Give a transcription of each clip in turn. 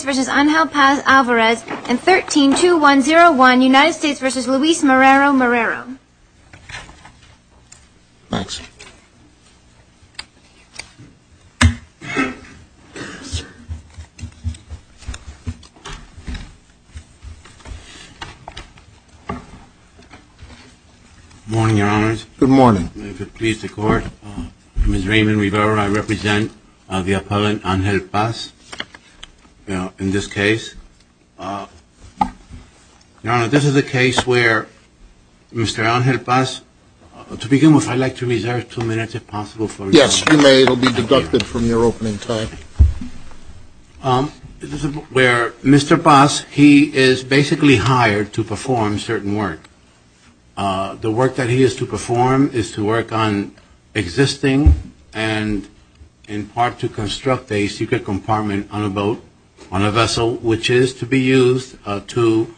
United States v. Angel Paz-Alvarez and 13-2101 United States v. Luis Morero Morero. Thanks. Good morning, Your Honors. Good morning. If it pleases the Court, Ms. Raymond Rivera, I represent the appellant Angel Paz in this case. Your Honor, this is a case where Mr. Angel Paz, to begin with, I'd like to reserve two minutes if possible. Yes, you may. It will be deducted from your opening time. This is where Mr. Paz, he is basically hired to perform certain work. The work that he is to perform is to work on existing and, in part, to construct a secret compartment on a boat, on a vessel, which is to be used to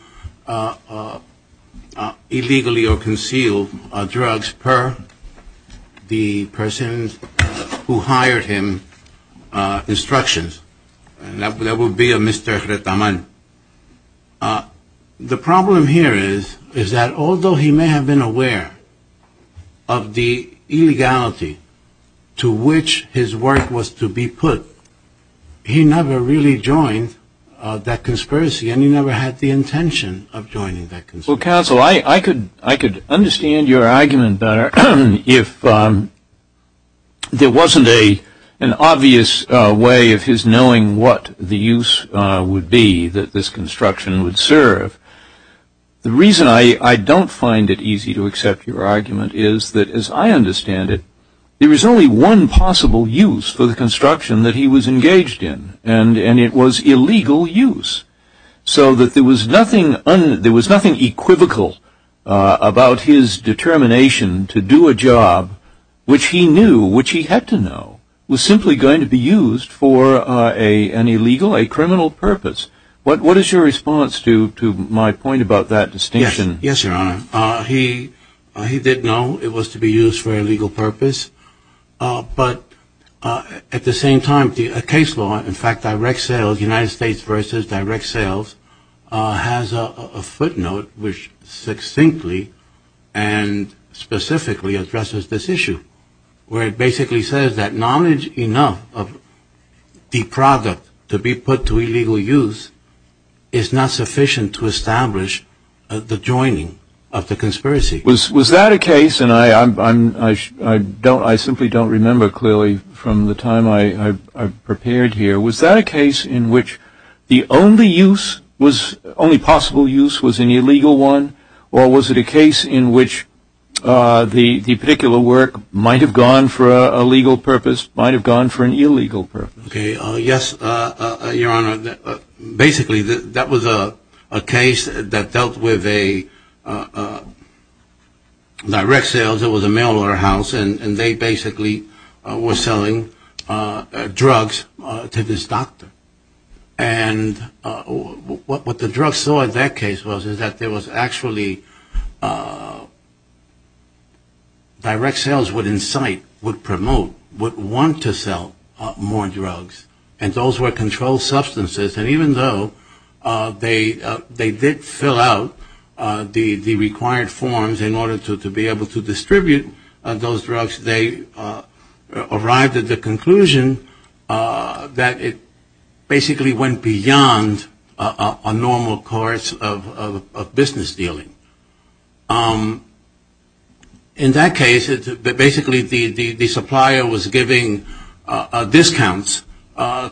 illegally or conceal drugs per the person who hired him instructions. And that would be a Mr. Retaman. The problem here is that although he may have been aware of the illegality to which his work was to be put, he never really joined that conspiracy and he never had the intention of joining that conspiracy. Well, counsel, I could understand your argument better if there wasn't an obvious way of his knowing what the use would be that this construction would serve. The reason I don't find it easy to accept your argument is that, as I understand it, there is only one possible use for the construction that he was engaged in, and it was illegal use. So that there was nothing equivocal about his determination to do a job which he knew, which he had to know, was simply going to be used for an illegal, a criminal purpose. What is your response to my point about that distinction? Yes, Your Honor. He did know it was to be used for a legal purpose. But at the same time, a case law, in fact, direct sales, United States versus direct sales, has a footnote which succinctly and specifically addresses this issue, where it basically says that knowledge enough of the product to be put to illegal use is not sufficient to establish the joining of the conspiracy. Was that a case, and I simply don't remember clearly from the time I prepared here, was that a case in which the only possible use was an illegal one, or was it a case in which the particular work might have gone for a legal purpose, might have gone for an illegal purpose? Yes, Your Honor. Basically, that was a case that dealt with direct sales. Because it was a mail order house, and they basically were selling drugs to this doctor. And what the drugs saw in that case was is that there was actually direct sales would incite, would promote, would want to sell more drugs. And those were controlled substances, and even though they did fill out the required forms in order to be able to distribute those drugs, they arrived at the conclusion that it basically went beyond a normal course of business dealing. In that case, basically the supplier was giving discounts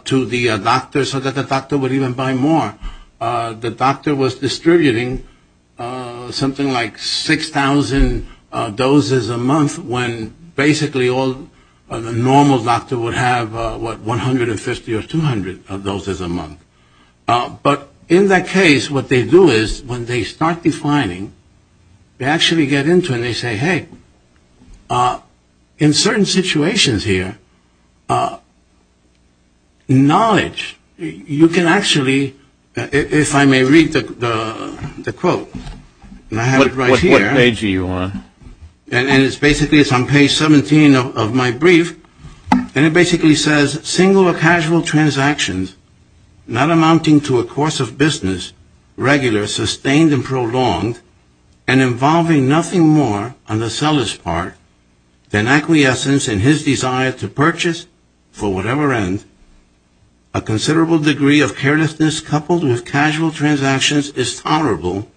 to the doctor so that the doctor would even buy more. The doctor was distributing something like 6,000 doses a month when basically the normal doctor would have, what, 150 or 200 doses a month. But in that case, what they do is when they start defining, they actually get into it and they say, hey, in certain situations here, knowledge, you can actually, if I may read the quote, and I have it right here. What page are you on? And it's basically, it's on page 17 of my brief, and it basically says, single or casual transactions not amounting to a course of business regular, sustained and prolonged, and involving nothing more on the seller's part than acquiescence in his desire to purchase, for whatever end, a considerable degree of carelessness coupled with casual transactions is tolerable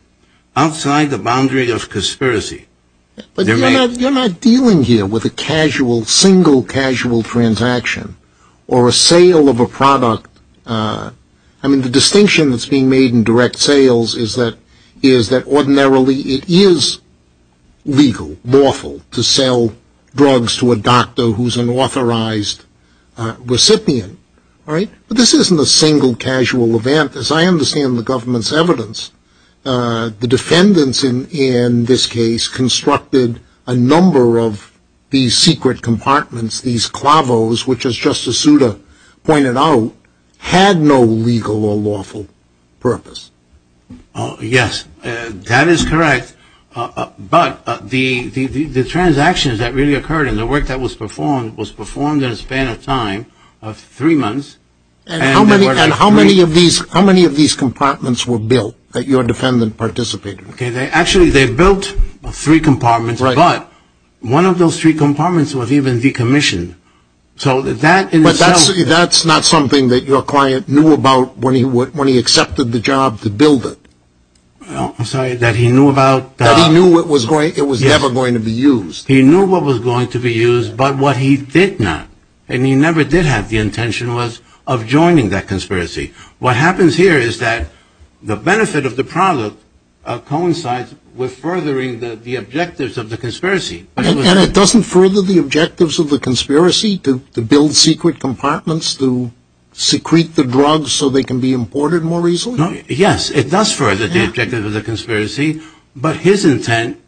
outside the boundary of conspiracy. But you're not dealing here with a casual, single casual transaction, or a sale of a product. I mean, the distinction that's being made in direct sales is that ordinarily it is legal, lawful to sell drugs to a doctor who's an authorized recipient, right? But this isn't a single casual event, as I understand the government's evidence. The defendants in this case constructed a number of these secret compartments, these clavos, which as Justice Souter pointed out, had no legal or lawful purpose. Yes, that is correct. But the transactions that really occurred and the work that was performed was performed in a span of time of three months. And how many of these compartments were built that your defendant participated in? Okay, actually they built three compartments, but one of those three compartments was even decommissioned. But that's not something that your client knew about when he accepted the job to build it. I'm sorry, that he knew about... That he knew it was never going to be used. He knew what was going to be used, but what he did not, and he never did have the intention was of joining that conspiracy. What happens here is that the benefit of the product coincides with furthering the objectives of the conspiracy. And it doesn't further the objectives of the conspiracy to build secret compartments to secrete the drugs so they can be imported more easily? Yes, it does further the objectives of the conspiracy, but his intent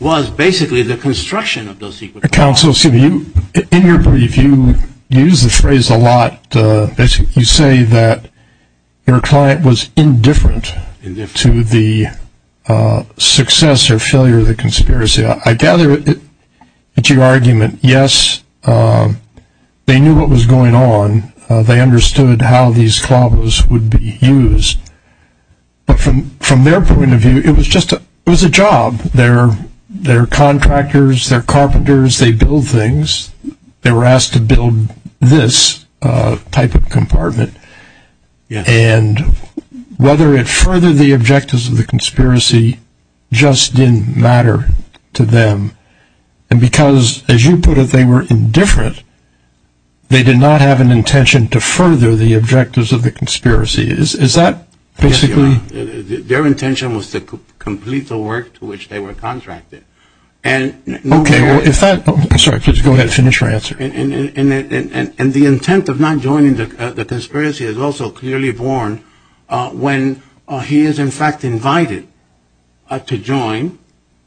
was basically the construction of those secret compartments. Counsel, excuse me, in your brief you use the phrase a lot, you say that your client was indifferent to the success or failure of the conspiracy. I gather that your argument, yes, they knew what was going on, they understood how these clobbers would be used. But from their point of view, it was just a job. They're contractors, they're carpenters, they build things. They were asked to build this type of compartment. And whether it furthered the objectives of the conspiracy just didn't matter to them. And because, as you put it, they were indifferent, they did not have an intention to further the objectives of the conspiracy. Is that basically? Their intention was to complete the work to which they were contracted. Okay, well, if that, sorry, please go ahead and finish your answer. And the intent of not joining the conspiracy is also clearly born when he is in fact invited to join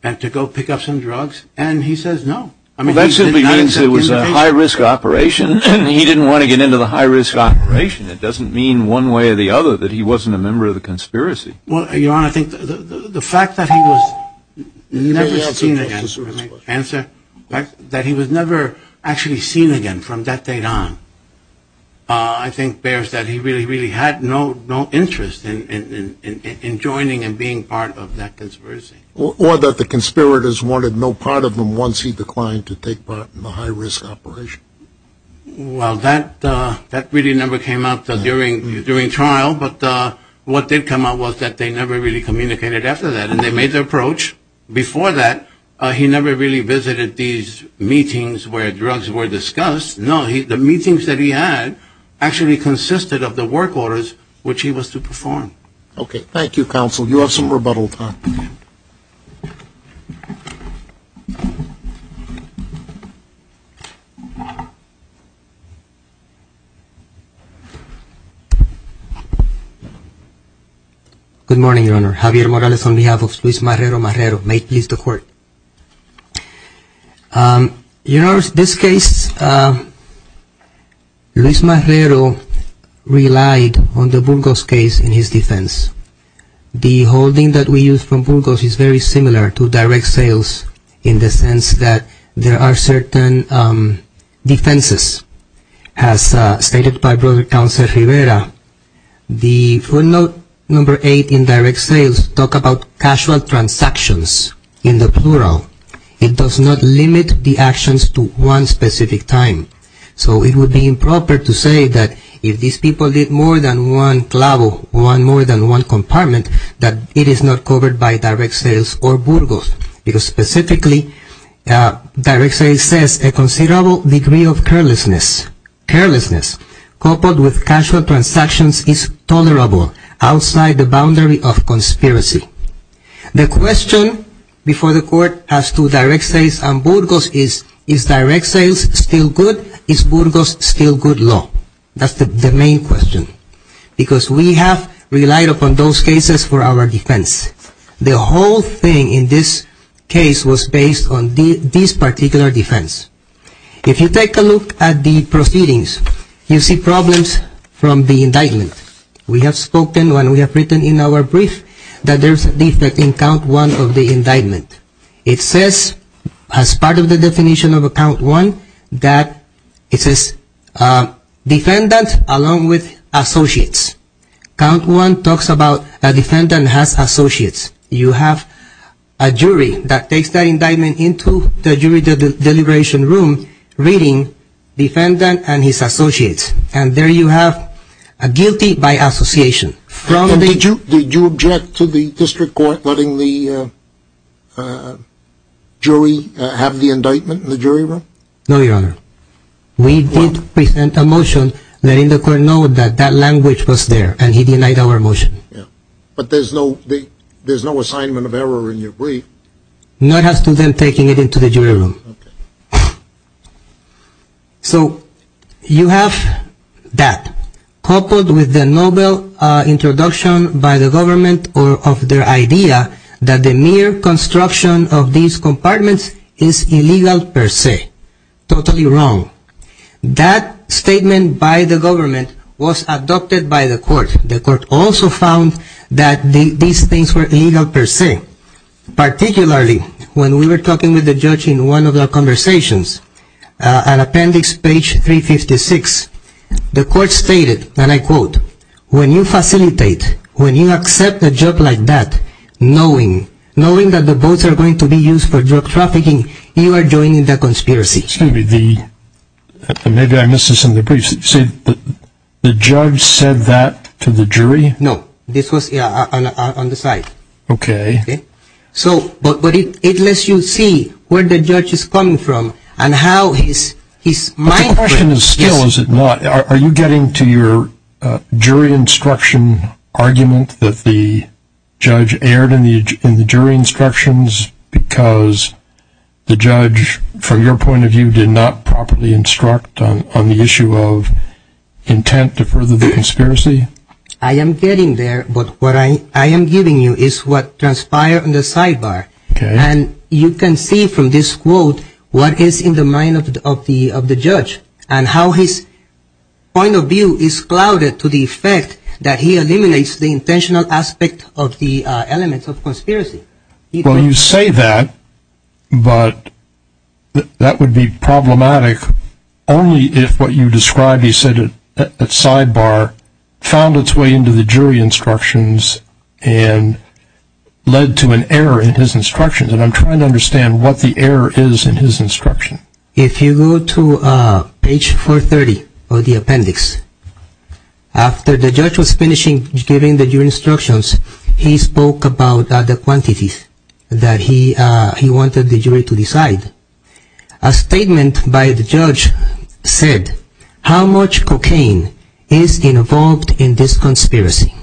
and to go pick up some drugs and he says no. I mean, that simply means it was a high-risk operation and he didn't want to get into the high-risk operation. It doesn't mean one way or the other that he wasn't a member of the conspiracy. Well, Your Honor, I think the fact that he was never seen again, the fact that he was never actually seen again from that date on, I think bears that he really, really had no interest in joining and being part of that conspiracy. Or that the conspirators wanted no part of him once he declined to take part in the high-risk operation. Well, that really never came up during trial, but what did come up was that they never really communicated after that, and they made their approach before that. He never really visited these meetings where drugs were discussed. No. The meetings that he had actually consisted of the work orders which he was to perform. Okay. Thank you, Counsel. You have some rebuttal time. Good morning, Your Honor. Javier Morales on behalf of Luis Marrero Marrero. May it please the Court. Your Honor, this case, Luis Marrero relied on the Burgos case in his defense. The holding that we use from Burgos is very similar to direct sales in the sense that there are certain defenses. As stated by Brother Counsel Rivera, the footnote number eight in direct sales talk about casual transactions in the plural. It does not limit the actions to one specific time. So it would be improper to say that if these people did more than one clavo, one more than one compartment, that it is not covered by direct sales or Burgos. Because specifically, direct sales says a considerable degree of carelessness, coupled with casual transactions is tolerable outside the boundary of conspiracy. The question before the Court as to direct sales and Burgos is, is direct sales still good? Is Burgos still good law? That's the main question. Because we have relied upon those cases for our defense. The whole thing in this case was based on this particular defense. If you take a look at the proceedings, you see problems from the indictment. We have spoken when we have written in our brief that there's a defect in count one of the indictment. It says, as part of the definition of a count one, that it says defendant along with associates. Count one talks about a defendant has associates. You have a jury that takes that indictment into the jury deliberation room, reading defendant and his associates. And there you have a guilty by association. Did you object to the district court letting the jury have the indictment in the jury room? No, Your Honor. We did present a motion letting the court know that that language was there, and he denied our motion. But there's no assignment of error in your brief. Not as to them taking it into the jury room. Okay. So you have that. Coupled with the noble introduction by the government of their idea that the mere construction of these compartments is illegal per se. Totally wrong. That statement by the government was adopted by the court. The court also found that these things were illegal per se. Particularly when we were talking with the judge in one of the conversations, an appendix page 356. The court stated, and I quote, when you facilitate, when you accept a job like that, knowing that the boats are going to be used for drug trafficking, you are joining the conspiracy. Maybe I missed this in the brief. The judge said that to the jury? No. This was on the side. Okay. But it lets you see where the judge is coming from and how his mind. The question is still, is it not? Are you getting to your jury instruction argument that the judge erred in the jury instructions because the judge, from your point of view, did not properly instruct on the issue of intent to further the conspiracy? I am getting there, but what I am giving you is what transpired on the sidebar. Okay. And you can see from this quote what is in the mind of the judge and how his point of view is clouded to the effect that he eliminates the intentional aspect of the elements of conspiracy. Well, you say that, but that would be problematic only if what you described, you said at sidebar, found its way into the jury instructions and led to an error in his instructions. And I'm trying to understand what the error is in his instruction. If you go to page 430 of the appendix, after the judge was finishing giving the jury instructions, he spoke about the quantities that he wanted the jury to decide. A statement by the judge said, how much cocaine is involved in this conspiracy?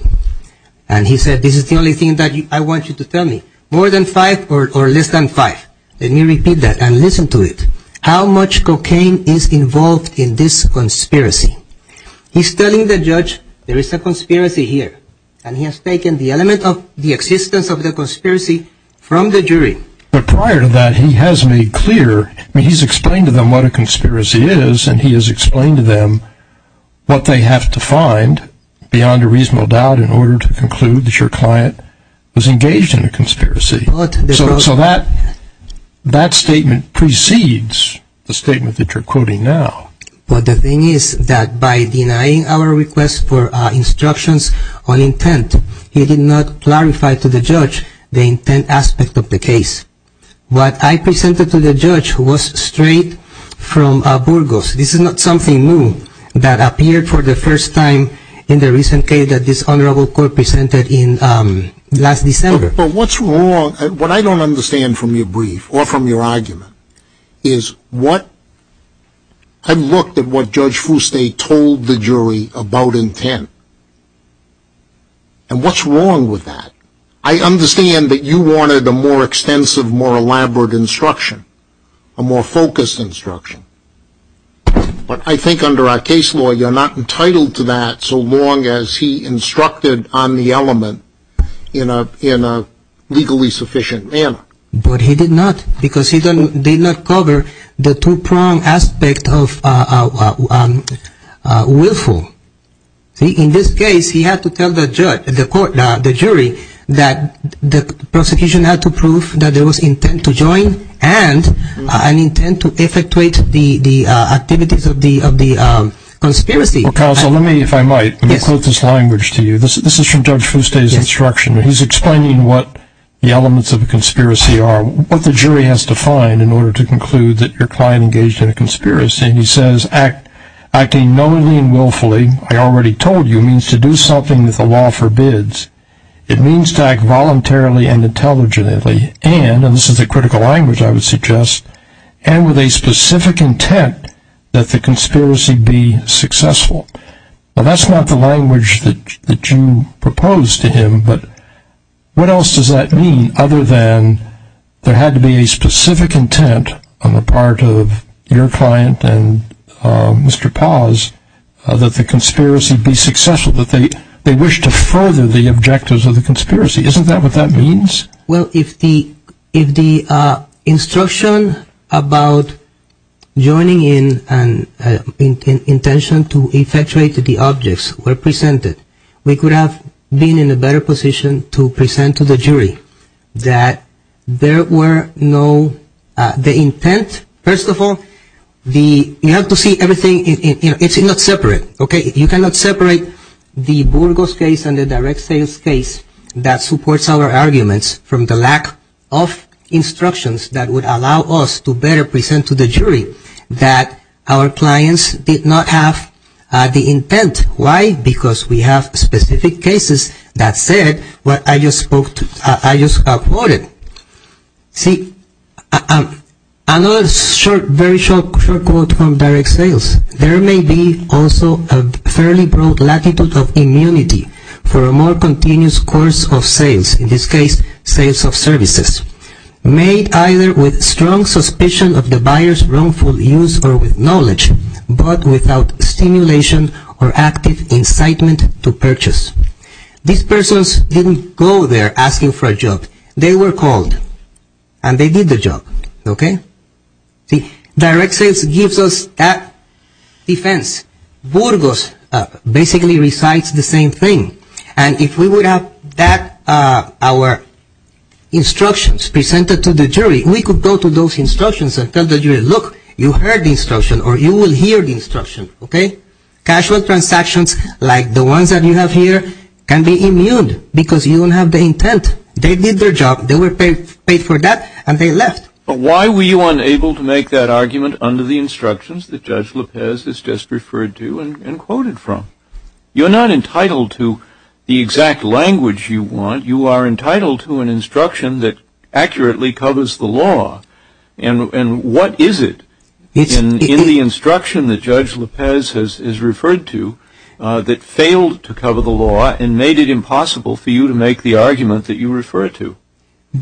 And he said, this is the only thing that I want you to tell me, more than five or less than five. Let me repeat that and listen to it. How much cocaine is involved in this conspiracy? He's telling the judge there is a conspiracy here, and he has taken the element of the existence of the conspiracy from the jury. But prior to that, he has made clear, he's explained to them what a conspiracy is, and he has explained to them what they have to find beyond a reasonable doubt in order to conclude that your client was engaged in a conspiracy. So that statement precedes the statement that you're quoting now. But the thing is that by denying our request for instructions on intent, he did not clarify to the judge the intent aspect of the case. What I presented to the judge was straight from Burgos. This is not something new that appeared for the first time in the recent case that this honorable court presented last December. But what's wrong, what I don't understand from your brief, or from your argument, is what, I looked at what Judge Fuste told the jury about intent. And what's wrong with that? I understand that you wanted a more extensive, more elaborate instruction, a more focused instruction. But I think under our case law, you're not entitled to that so long as he instructed on the element in a legally sufficient manner. But he did not, because he did not cover the two-pronged aspect of willful. In this case, he had to tell the jury that the prosecution had to prove that there was intent to join and an intent to effectuate the activities of the conspiracy. Counsel, let me, if I might, quote this language to you. This is from Judge Fuste's instruction. He's explaining what the elements of a conspiracy are, what the jury has to find in order to conclude that your client engaged in a conspiracy. And he says, acting knowingly and willfully, I already told you, means to do something that the law forbids. It means to act voluntarily and intelligently and, and this is a critical language I would suggest, and with a specific intent that the conspiracy be successful. Now, that's not the language that you proposed to him, but what else does that mean other than there had to be a specific intent on the part of your client and Mr. Paz that the conspiracy be successful, that they wish to further the objectives of the conspiracy. Isn't that what that means? Well, if the instruction about joining in and intention to effectuate the objects were presented, we could have been in a better position to present to the jury that there were no, the intent. First of all, the, you have to see everything, it's not separate, okay. You cannot separate the Burgos case and the direct sales case that supports our arguments from the lack of instructions that would allow us to better present to the jury that our clients did not have the intent. Why? Because we have specific cases that said what I just spoke to, I just quoted. See, another short, very short quote from direct sales, there may be also a fairly broad latitude of immunity for a more continuous course of sales, in this case sales of services made either with strong suspicion of the buyer's wrongful use or with knowledge, but without stimulation or active incitement to purchase. These persons didn't go there asking for a job, they were called and they did the job, okay. See, direct sales gives us that defense, Burgos basically recites the same thing and if we would have that, our instructions presented to the jury, we could go to those instructions and tell the jury, look, you heard the instruction or you will hear the instruction, okay. Casual transactions like the ones that you have here can be immune because you don't have the intent. They did their job, they were paid for that and they left. But why were you unable to make that argument under the instructions that Judge Lopez has just referred to and quoted from? You're not entitled to the exact language you want, you are entitled to an instruction that accurately covers the law. And what is it in the instruction that Judge Lopez has referred to that failed to cover the law and made it impossible for you to make the argument that you refer to?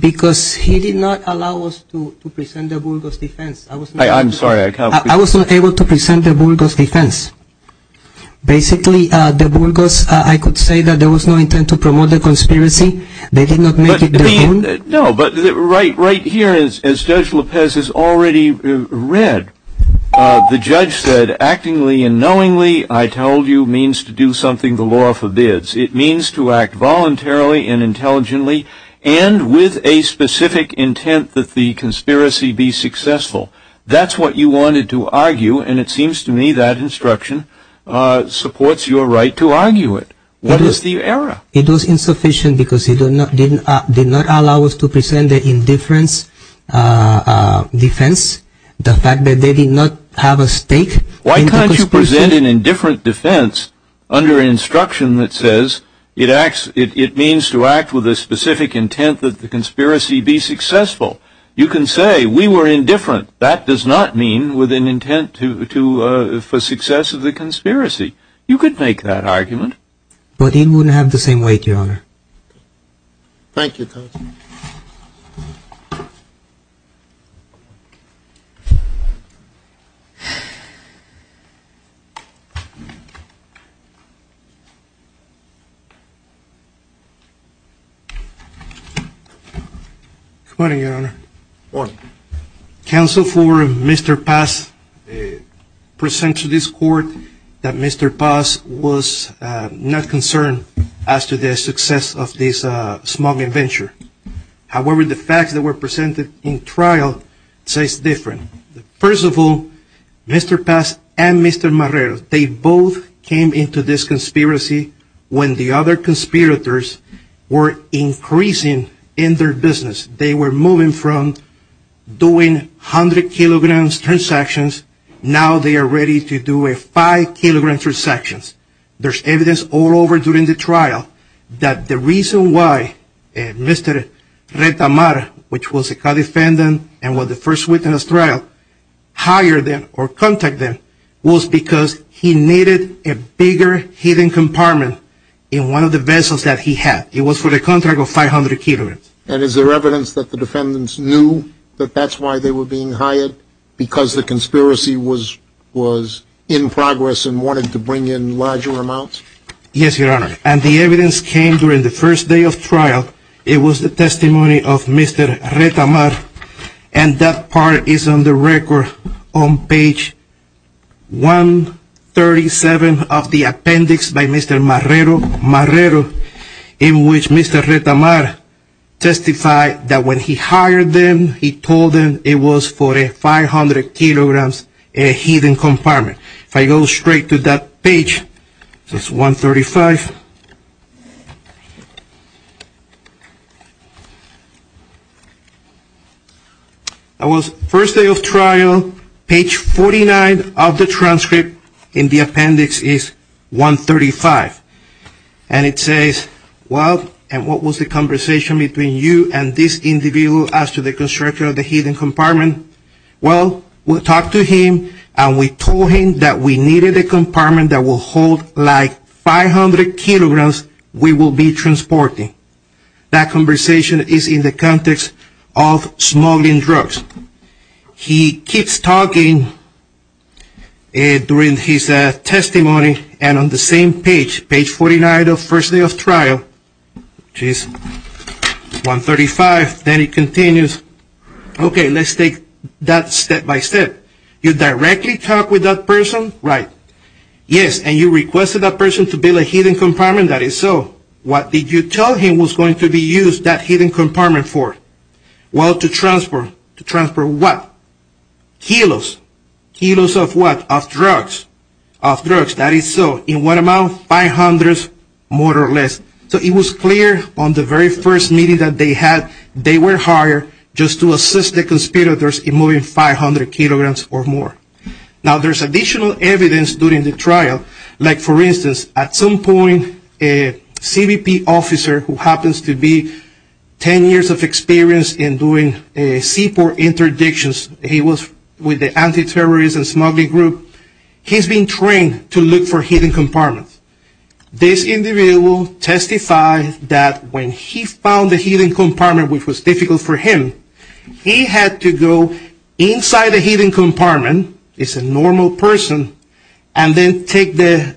Because he did not allow us to present the Burgos defense. I'm sorry. I was not able to present the Burgos defense. Basically, the Burgos, I could say that there was no intent to promote the conspiracy. They did not make it their own. No, but right here, as Judge Lopez has already read, the judge said, actingly and knowingly, I told you, means to do something the law forbids. It means to act voluntarily and intelligently and with a specific intent that the conspiracy be successful. That's what you wanted to argue, and it seems to me that instruction supports your right to argue it. What is the error? It was insufficient because he did not allow us to present the indifference defense, the fact that they did not have a stake in the conspiracy. Why can't you present an indifferent defense under instruction that says it means to act with a specific intent that the conspiracy be successful? You can say we were indifferent. That does not mean with an intent for success of the conspiracy. You could make that argument. But he wouldn't have the same weight, Your Honor. Thank you. Good morning, Your Honor. Good morning. Counsel for Mr. Paz presents to this court that Mr. Paz was not concerned as to the success of this smuggling venture. However, the facts that were presented in trial say it's different. First of all, Mr. Paz and Mr. Marrero, they both came into this conspiracy when the other conspirators were increasing in their business. They were moving from doing 100 kilograms transactions. Now they are ready to do a 5-kilogram transaction. There's evidence all over during the trial that the reason why Mr. Retamar, which was a co-defendant and was the first witness trial, hired them or contacted them was because he needed a bigger hidden compartment in one of the vessels that he had. It was for the contract of 500 kilograms. And is there evidence that the defendants knew that that's why they were being hired? Because the conspiracy was in progress and wanted to bring in larger amounts? Yes, Your Honor. And the evidence came during the first day of trial. It was the testimony of Mr. Retamar. And that part is on the record on page 137 of the appendix by Mr. Marrero, in which Mr. Retamar testified that when he hired them, he told them it was for a 500 kilograms hidden compartment. If I go straight to that page, it's 135. That was the first day of trial. Page 49 of the transcript in the appendix is 135. And it says, well, and what was the conversation between you and this individual as to the construction of the hidden compartment? Well, we talked to him and we told him that we needed a compartment that will hold like 500 kilograms we will be transporting. That conversation is in the context of smuggling drugs. He keeps talking during his testimony and on the same page, page 49 of the first day of trial, which is 135, then it continues. Okay, let's take that step by step. You directly talked with that person? Right. Yes. And you requested that person to build a hidden compartment? That is so. What did you tell him was going to be used, that hidden compartment for? Well, to transport. To transport what? Kilos. Kilos of what? Of drugs. Of drugs. That is so. In what amount? 500 more or less. So it was clear on the very first meeting that they had, they were hired just to assist the conspirators in moving 500 kilograms or more. Now, there's additional evidence during the trial. Like, for instance, at some point, a CBP officer who happens to be 10 years of experience in doing seaport interdictions, he was with the anti-terrorism smuggling group, he's been trained to look for hidden compartments. This individual testified that when he found the hidden compartment, which was difficult for him, he had to go inside the hidden compartment, he's a normal person, and then take the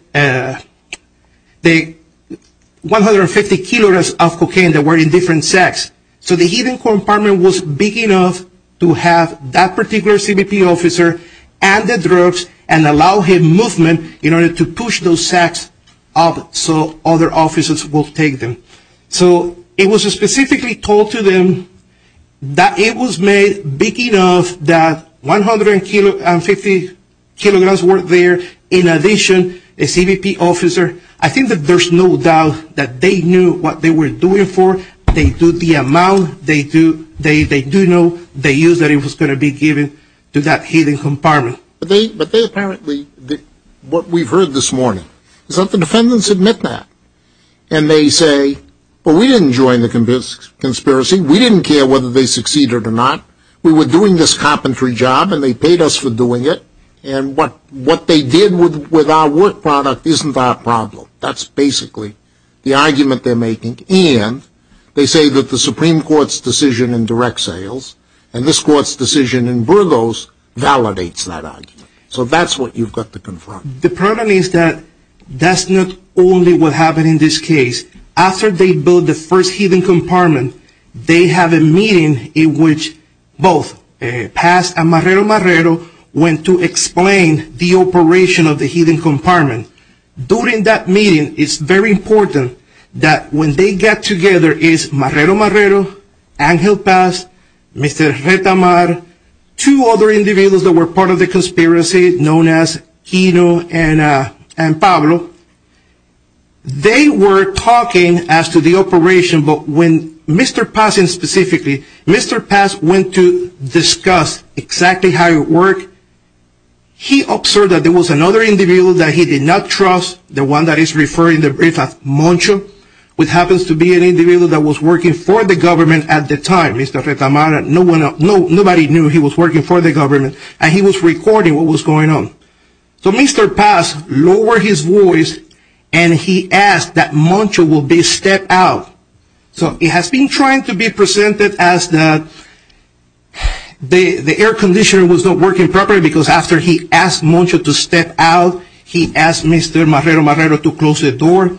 150 kilograms of cocaine that were in different sacks. So the hidden compartment was big enough to have that particular CBP officer and the drugs and allow him movement in order to push those sacks up so other officers will take them. So it was specifically told to them that it was made big enough that 150 kilograms were there. In addition, a CBP officer, I think that there's no doubt that they knew what they were doing for. They knew the amount, they knew that it was going to be given to that hidden compartment. But they apparently, what we've heard this morning, is that the defendants admit that. And they say, well, we didn't join the conspiracy, we didn't care whether they succeeded or not, we were doing this carpentry job and they paid us for doing it, and what they did with our work product isn't our problem. That's basically the argument they're making, and they say that the Supreme Court's decision in direct sales and this Court's decision in Burgos validates that argument. So that's what you've got to confront. The problem is that that's not only what happened in this case. After they built the first hidden compartment, they have a meeting in which both Paz and Marrero Marrero went to explain the operation of the hidden compartment. During that meeting, it's very important that when they get together, it's Marrero Marrero, Angel Paz, Mr. Retamar, two other individuals that were part of the conspiracy known as Kino and Pablo. They were talking as to the operation, but when Mr. Paz went to discuss exactly how it worked, he observed that there was another individual that he did not trust, the one that is referred to as Moncho, which happens to be an individual that was working for the government at the time, Mr. Retamar. Nobody knew he was working for the government, and he was recording what was going on. So Mr. Paz lowered his voice and he asked that Moncho would be stepped out. So it has been trying to be presented as that the air conditioner was not working properly because after he asked Moncho to step out, he asked Mr. Marrero Marrero to close the door.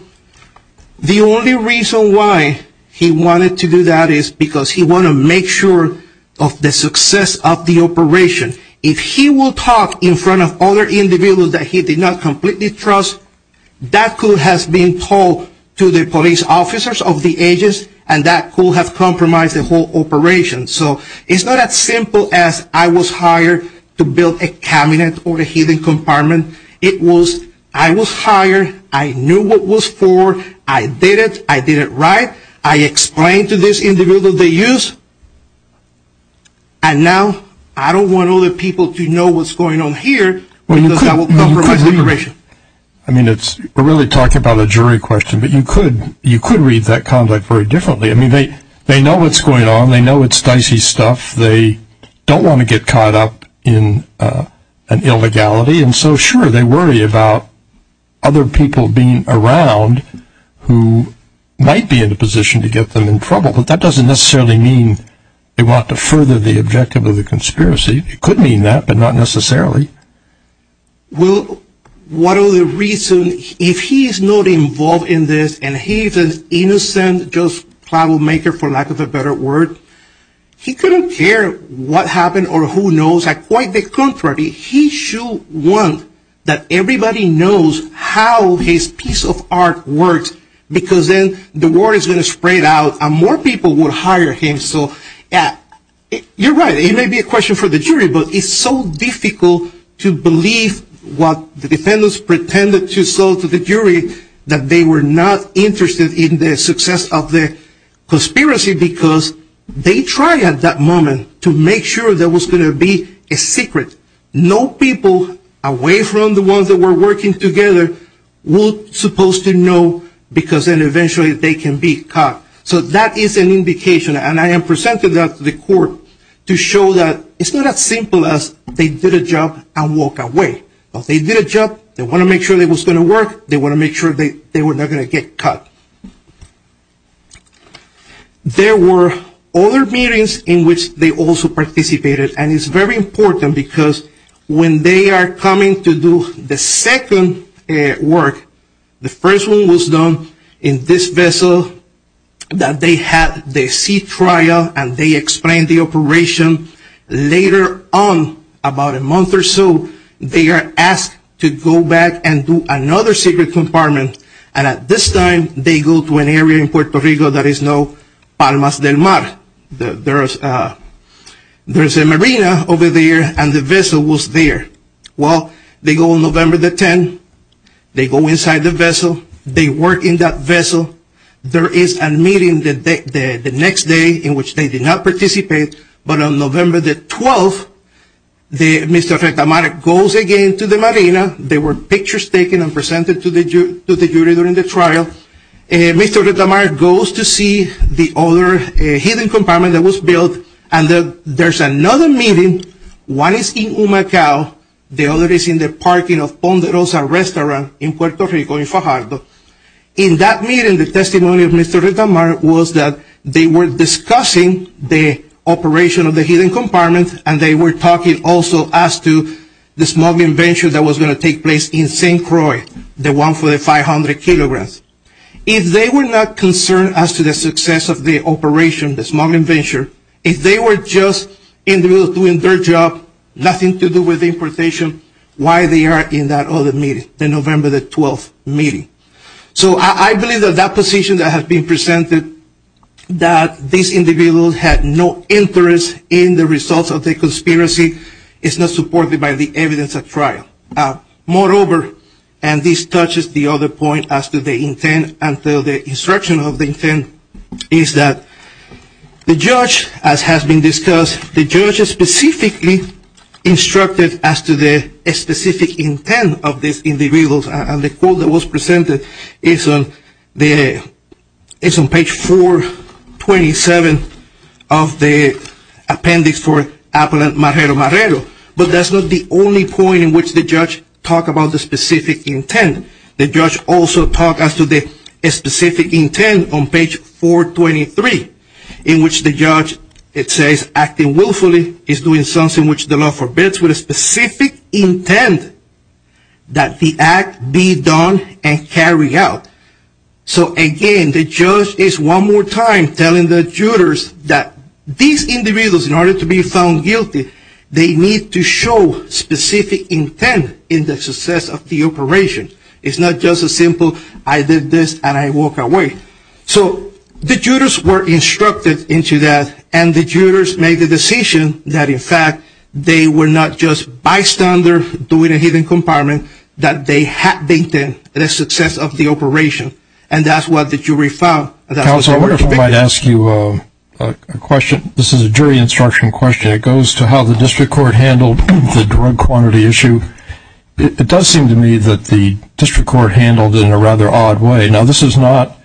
The only reason why he wanted to do that is because he wanted to make sure of the success of the operation. If he will talk in front of other individuals that he did not completely trust, that could have been told to the police officers of the ages, and that could have compromised the whole operation. So it's not as simple as I was hired to build a cabinet or a hidden compartment. It was I was hired, I knew what was for, I did it, I did it right, I explained to this individual the use, and now I don't want other people to know what's going on here because that will compromise the operation. I mean we're really talking about a jury question, but you could read that conduct very differently. I mean they know what's going on. They know it's dicey stuff. They don't want to get caught up in an illegality, and so sure they worry about other people being around who might be in a position to get them in trouble, but that doesn't necessarily mean they want to further the objective of the conspiracy. It could mean that, but not necessarily. Well, what are the reasons? If he's not involved in this and he's an innocent, just plowmaker for lack of a better word, he couldn't care what happened or who knows. Quite the contrary, he should want that everybody knows how his piece of art works because then the word is going to spread out and more people will hire him. You're right, it may be a question for the jury, but it's so difficult to believe what the defendants pretended to show to the jury that they were not interested in the success of the conspiracy because they tried at that moment to make sure there was going to be a secret. No people away from the ones that were working together were supposed to know because then eventually they can be caught. So that is an indication, and I am presenting that to the court, to show that it's not as simple as they did a job and walked away. They did a job, they wanted to make sure it was going to work, they wanted to make sure they were not going to get caught. There were other meetings in which they also participated, and it's very important because when they are coming to do the second work, the first one was done in this vessel that they had the sea trial and they explained the operation. Later on, about a month or so, they are asked to go back and do another secret compartment, and at this time they go to an area in Puerto Rico that is now Palmas del Mar. There is a marina over there and the vessel was there. Well, they go on November the 10th, they go inside the vessel, they work in that vessel. There is a meeting the next day in which they did not participate, but on November the 12th, Mr. Rectamarek goes again to the marina. There were pictures taken and presented to the jury during the trial. Mr. Rectamarek goes to see the other hidden compartment that was built, and there is another meeting, one is in Humacao, the other is in the parking of Ponderosa Restaurant in Puerto Rico in Fajardo. In that meeting, the testimony of Mr. Rectamarek was that they were discussing the operation of the hidden compartment and they were talking also as to the smuggling venture that was going to take place in St. Croix, the one for the 500 kilograms. If they were not concerned as to the success of the operation, the smuggling venture, if they were just individuals doing their job, nothing to do with importation, why they are in that other meeting, the November the 12th meeting. So I believe that that position that has been presented, that these individuals had no interest in the results of the conspiracy, is not supported by the evidence at trial. Moreover, and this touches the other point as to the intent and the instruction of the intent, is that the judge, as has been discussed, the judge specifically instructed as to the specific intent of these individuals, and the quote that was presented is on page 427 of the appendix for Appellant Marrero Marrero. But that's not the only point in which the judge talked about the specific intent. The judge also talked as to the specific intent on page 423, in which the judge, it says, acting willfully is doing something which the law forbids with a specific intent that the act be done and carried out. So again, the judge is one more time telling the jurors that these individuals, in order to be found guilty, they need to show specific intent in the success of the operation. It's not just a simple, I did this and I walk away. So the jurors were instructed into that, and the jurors made the decision that in fact, they were not just bystanders doing a hidden compartment, that they had to maintain the success of the operation, and that's what the jury found. Counsel, I wonder if I might ask you a question. This is a jury instruction question. It goes to how the district court handled the drug quantity issue. It does seem to me that the district court handled it in a rather odd way. Now, this is not,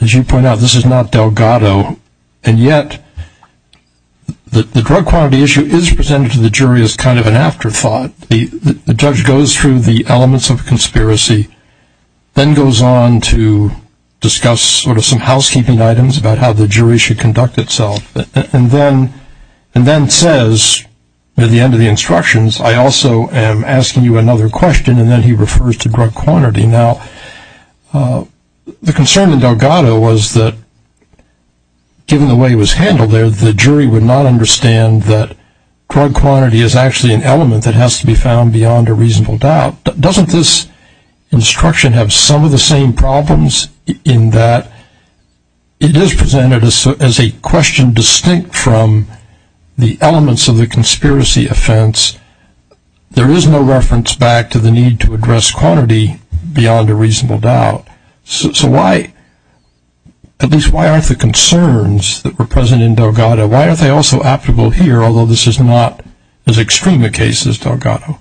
as you point out, this is not Delgado, and yet the drug quantity issue is presented to the jury as kind of an afterthought. The judge goes through the elements of conspiracy, then goes on to discuss sort of some housekeeping items about how the jury should conduct itself, and then says at the end of the instructions, I also am asking you another question, and then he refers to drug quantity. Now, the concern in Delgado was that given the way it was handled there, the jury would not understand that drug quantity is actually an element that has to be found beyond a reasonable doubt. Doesn't this instruction have some of the same problems in that it is presented as a question distinct from the elements of the conspiracy offense? There is no reference back to the need to address quantity beyond a reasonable doubt. So why, at least why aren't the concerns that were present in Delgado, why aren't they also applicable here, although this is not as extreme a case as Delgado?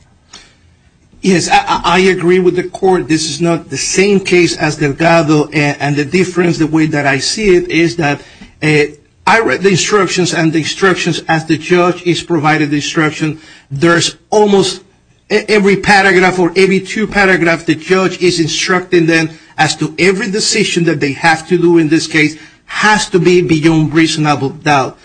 Yes, I agree with the court. This is not the same case as Delgado, and the difference, the way that I see it, is that I read the instructions and the instructions as the judge is provided the instruction. There's almost every paragraph or every two paragraphs the judge is instructing them as to every decision that they have to do in this case has to be beyond reasonable doubt.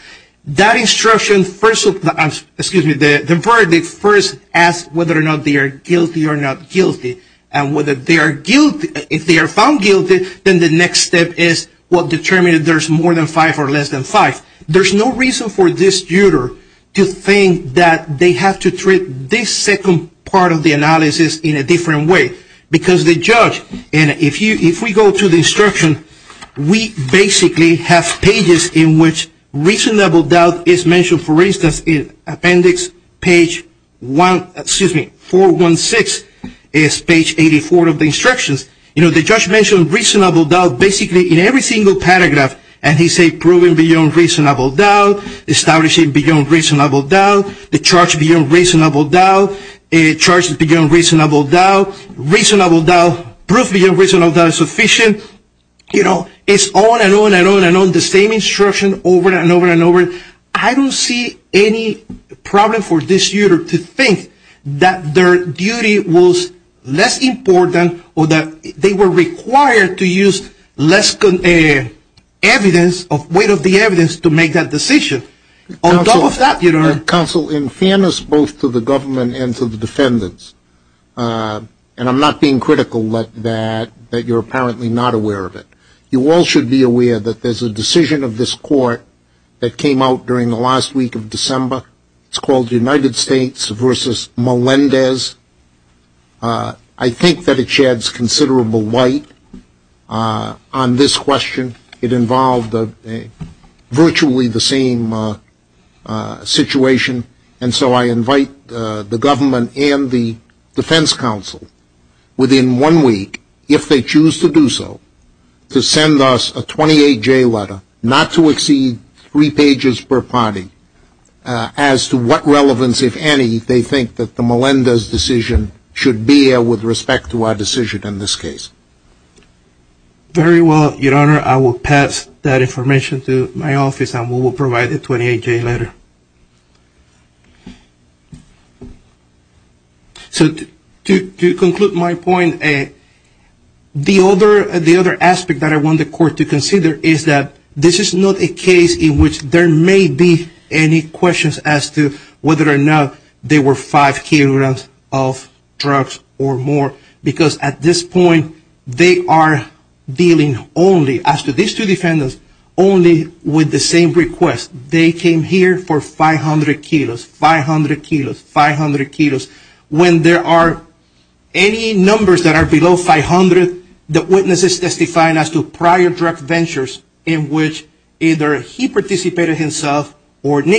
That instruction, first of all, excuse me, the verdict first asks whether or not they are guilty or not guilty, and whether they are guilty, if they are found guilty, then the next step is what determines if there's more than five or less than five. There's no reason for this juror to think that they have to treat this second part of the analysis in a different way. Because the judge, and if we go to the instruction, we basically have pages in which reasonable doubt is mentioned. For instance, in appendix 416 is page 84 of the instructions. You know, the judge mentions reasonable doubt basically in every single paragraph. And he says proven beyond reasonable doubt, establishing beyond reasonable doubt, the charge beyond reasonable doubt, the charge beyond reasonable doubt, reasonable doubt, proof beyond reasonable doubt is sufficient. You know, it's on and on and on and on, the same instruction over and over and over. I don't see any problem for this juror to think that their duty was less important or that they were required to use less evidence, weight of the evidence to make that decision. On top of that, you know. Counsel, in fairness both to the government and to the defendants, and I'm not being critical that you're apparently not aware of it, you all should be aware that there's a decision of this court that came out during the last week of December. It's called United States versus Melendez. I think that it sheds considerable light on this question. It involved virtually the same situation. And so I invite the government and the defense counsel within one week, if they choose to do so, to send us a 28-J letter, not to exceed three pages per party, as to what relevance, if any, they think that the Melendez decision should bear with respect to our decision in this case. Very well, Your Honor. I will pass that information to my office and we will provide the 28-J letter. So to conclude my point, the other aspect that I want the court to consider is that this is not a case in which there may be any questions as to whether or not there were five kilograms of drugs or more. Because at this point, they are dealing only, as to these two defendants, only with the same request. They came here for 500 kilos, 500 kilos, 500 kilos. When there are any numbers that are below 500, the witness is testifying as to prior drug ventures in which either he participated himself or the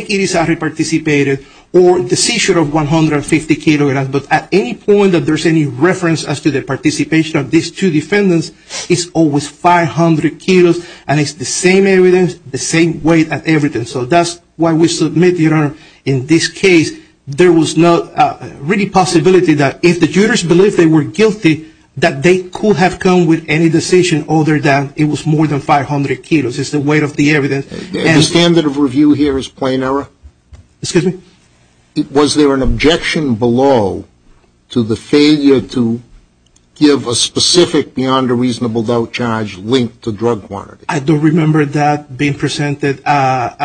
seizure of 150 kilograms. But at any point that there's any reference as to the participation of these two defendants, it's always 500 kilos. And it's the same evidence, the same weight of evidence. So that's why we submit, Your Honor, in this case, there was no really possibility that if the jurors believed they were guilty, that they could have come with any decision other than it was more than 500 kilos. It's the weight of the evidence. The standard of review here is plain error? Excuse me? Was there an objection below to the failure to give a specific beyond a reasonable doubt charge linked to drug quantity? I don't remember that being presented at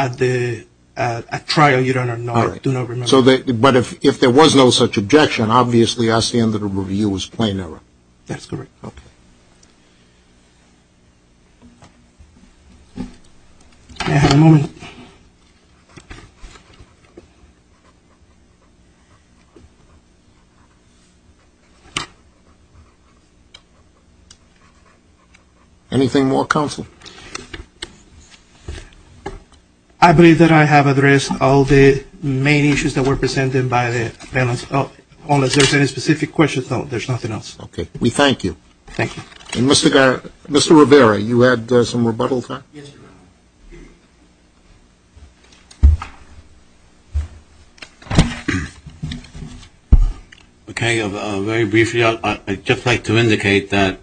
trial, Your Honor. I do not remember. But if there was no such objection, obviously our standard of review was plain error. That's correct. Okay. May I have a moment? Anything more, counsel? I believe that I have addressed all the main issues that were presented by the defendants. Unless there's any specific questions, there's nothing else. Okay. We thank you. Thank you. Mr. Rivera, you had some rebuttal time? Yes, Your Honor. Okay. Very briefly, I'd just like to indicate that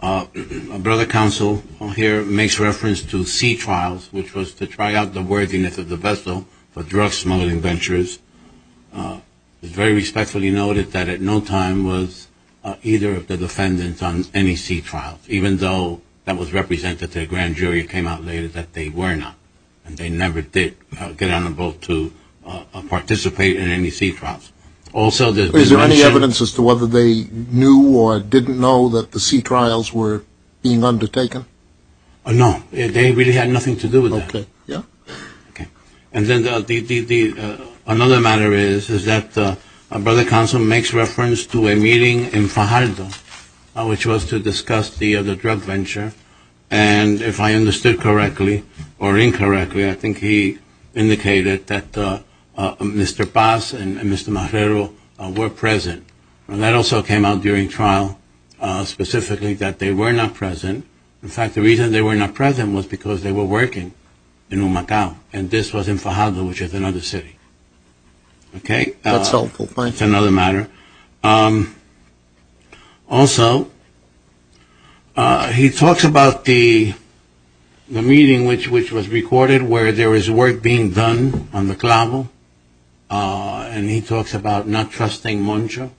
a brother counsel here makes reference to C trials, which was to try out the worthiness of the vessel for drug smuggling ventures. It's very respectfully noted that at no time was either of the defendants on any C trials, even though that was represented to a grand jury that came out later, that they were not. And they never did get on a boat to participate in any C trials. Also, there's no evidence as to whether they knew or didn't know that the C trials were being undertaken? No. They really had nothing to do with that. Okay. Yeah. Okay. And then another matter is that a brother counsel makes reference to a meeting in Fajardo, which was to discuss the drug venture. And if I understood correctly or incorrectly, I think he indicated that Mr. Paz and Mr. Marrero were present. And that also came out during trial, specifically that they were not present. In fact, the reason they were not present was because they were working in Humacao. And this was in Fajardo, which is another city. Okay. That's helpful. It's another matter. Also, he talks about the meeting which was recorded where there was work being done on the clavo. And he talks about not trusting Moncho.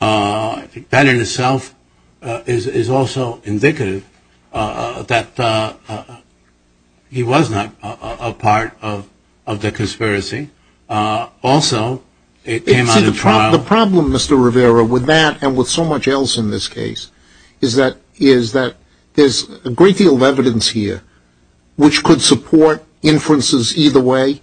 That in itself is also indicative that he was not a part of the conspiracy. Also, it came out of trial. The problem, Mr. Rivera, with that and with so much else in this case, is that there's a great deal of evidence here which could support inferences either way.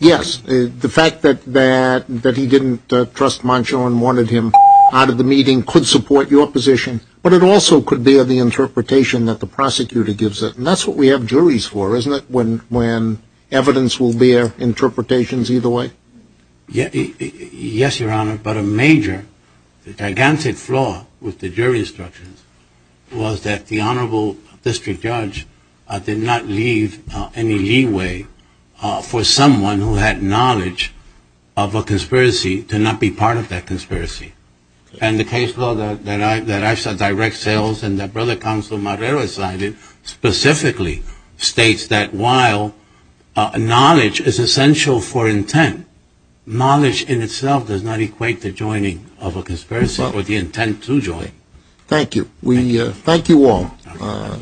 Yes. The fact that he didn't trust Moncho and wanted him out of the meeting could support your position. But it also could bear the interpretation that the prosecutor gives it. And that's what we have juries for, isn't it, when evidence will bear interpretations either way? Yes, Your Honor. But a major, gigantic flaw with the jury instructions was that the Honorable District Judge did not leave any leeway for someone who had knowledge of a conspiracy to not be part of that conspiracy. And the case law that I saw direct sales and that Brother Counsel Marrero cited specifically states that while knowledge is essential for intent, knowledge in itself does not equate to joining of a conspiracy or the intent to join. Thank you. Thank you all.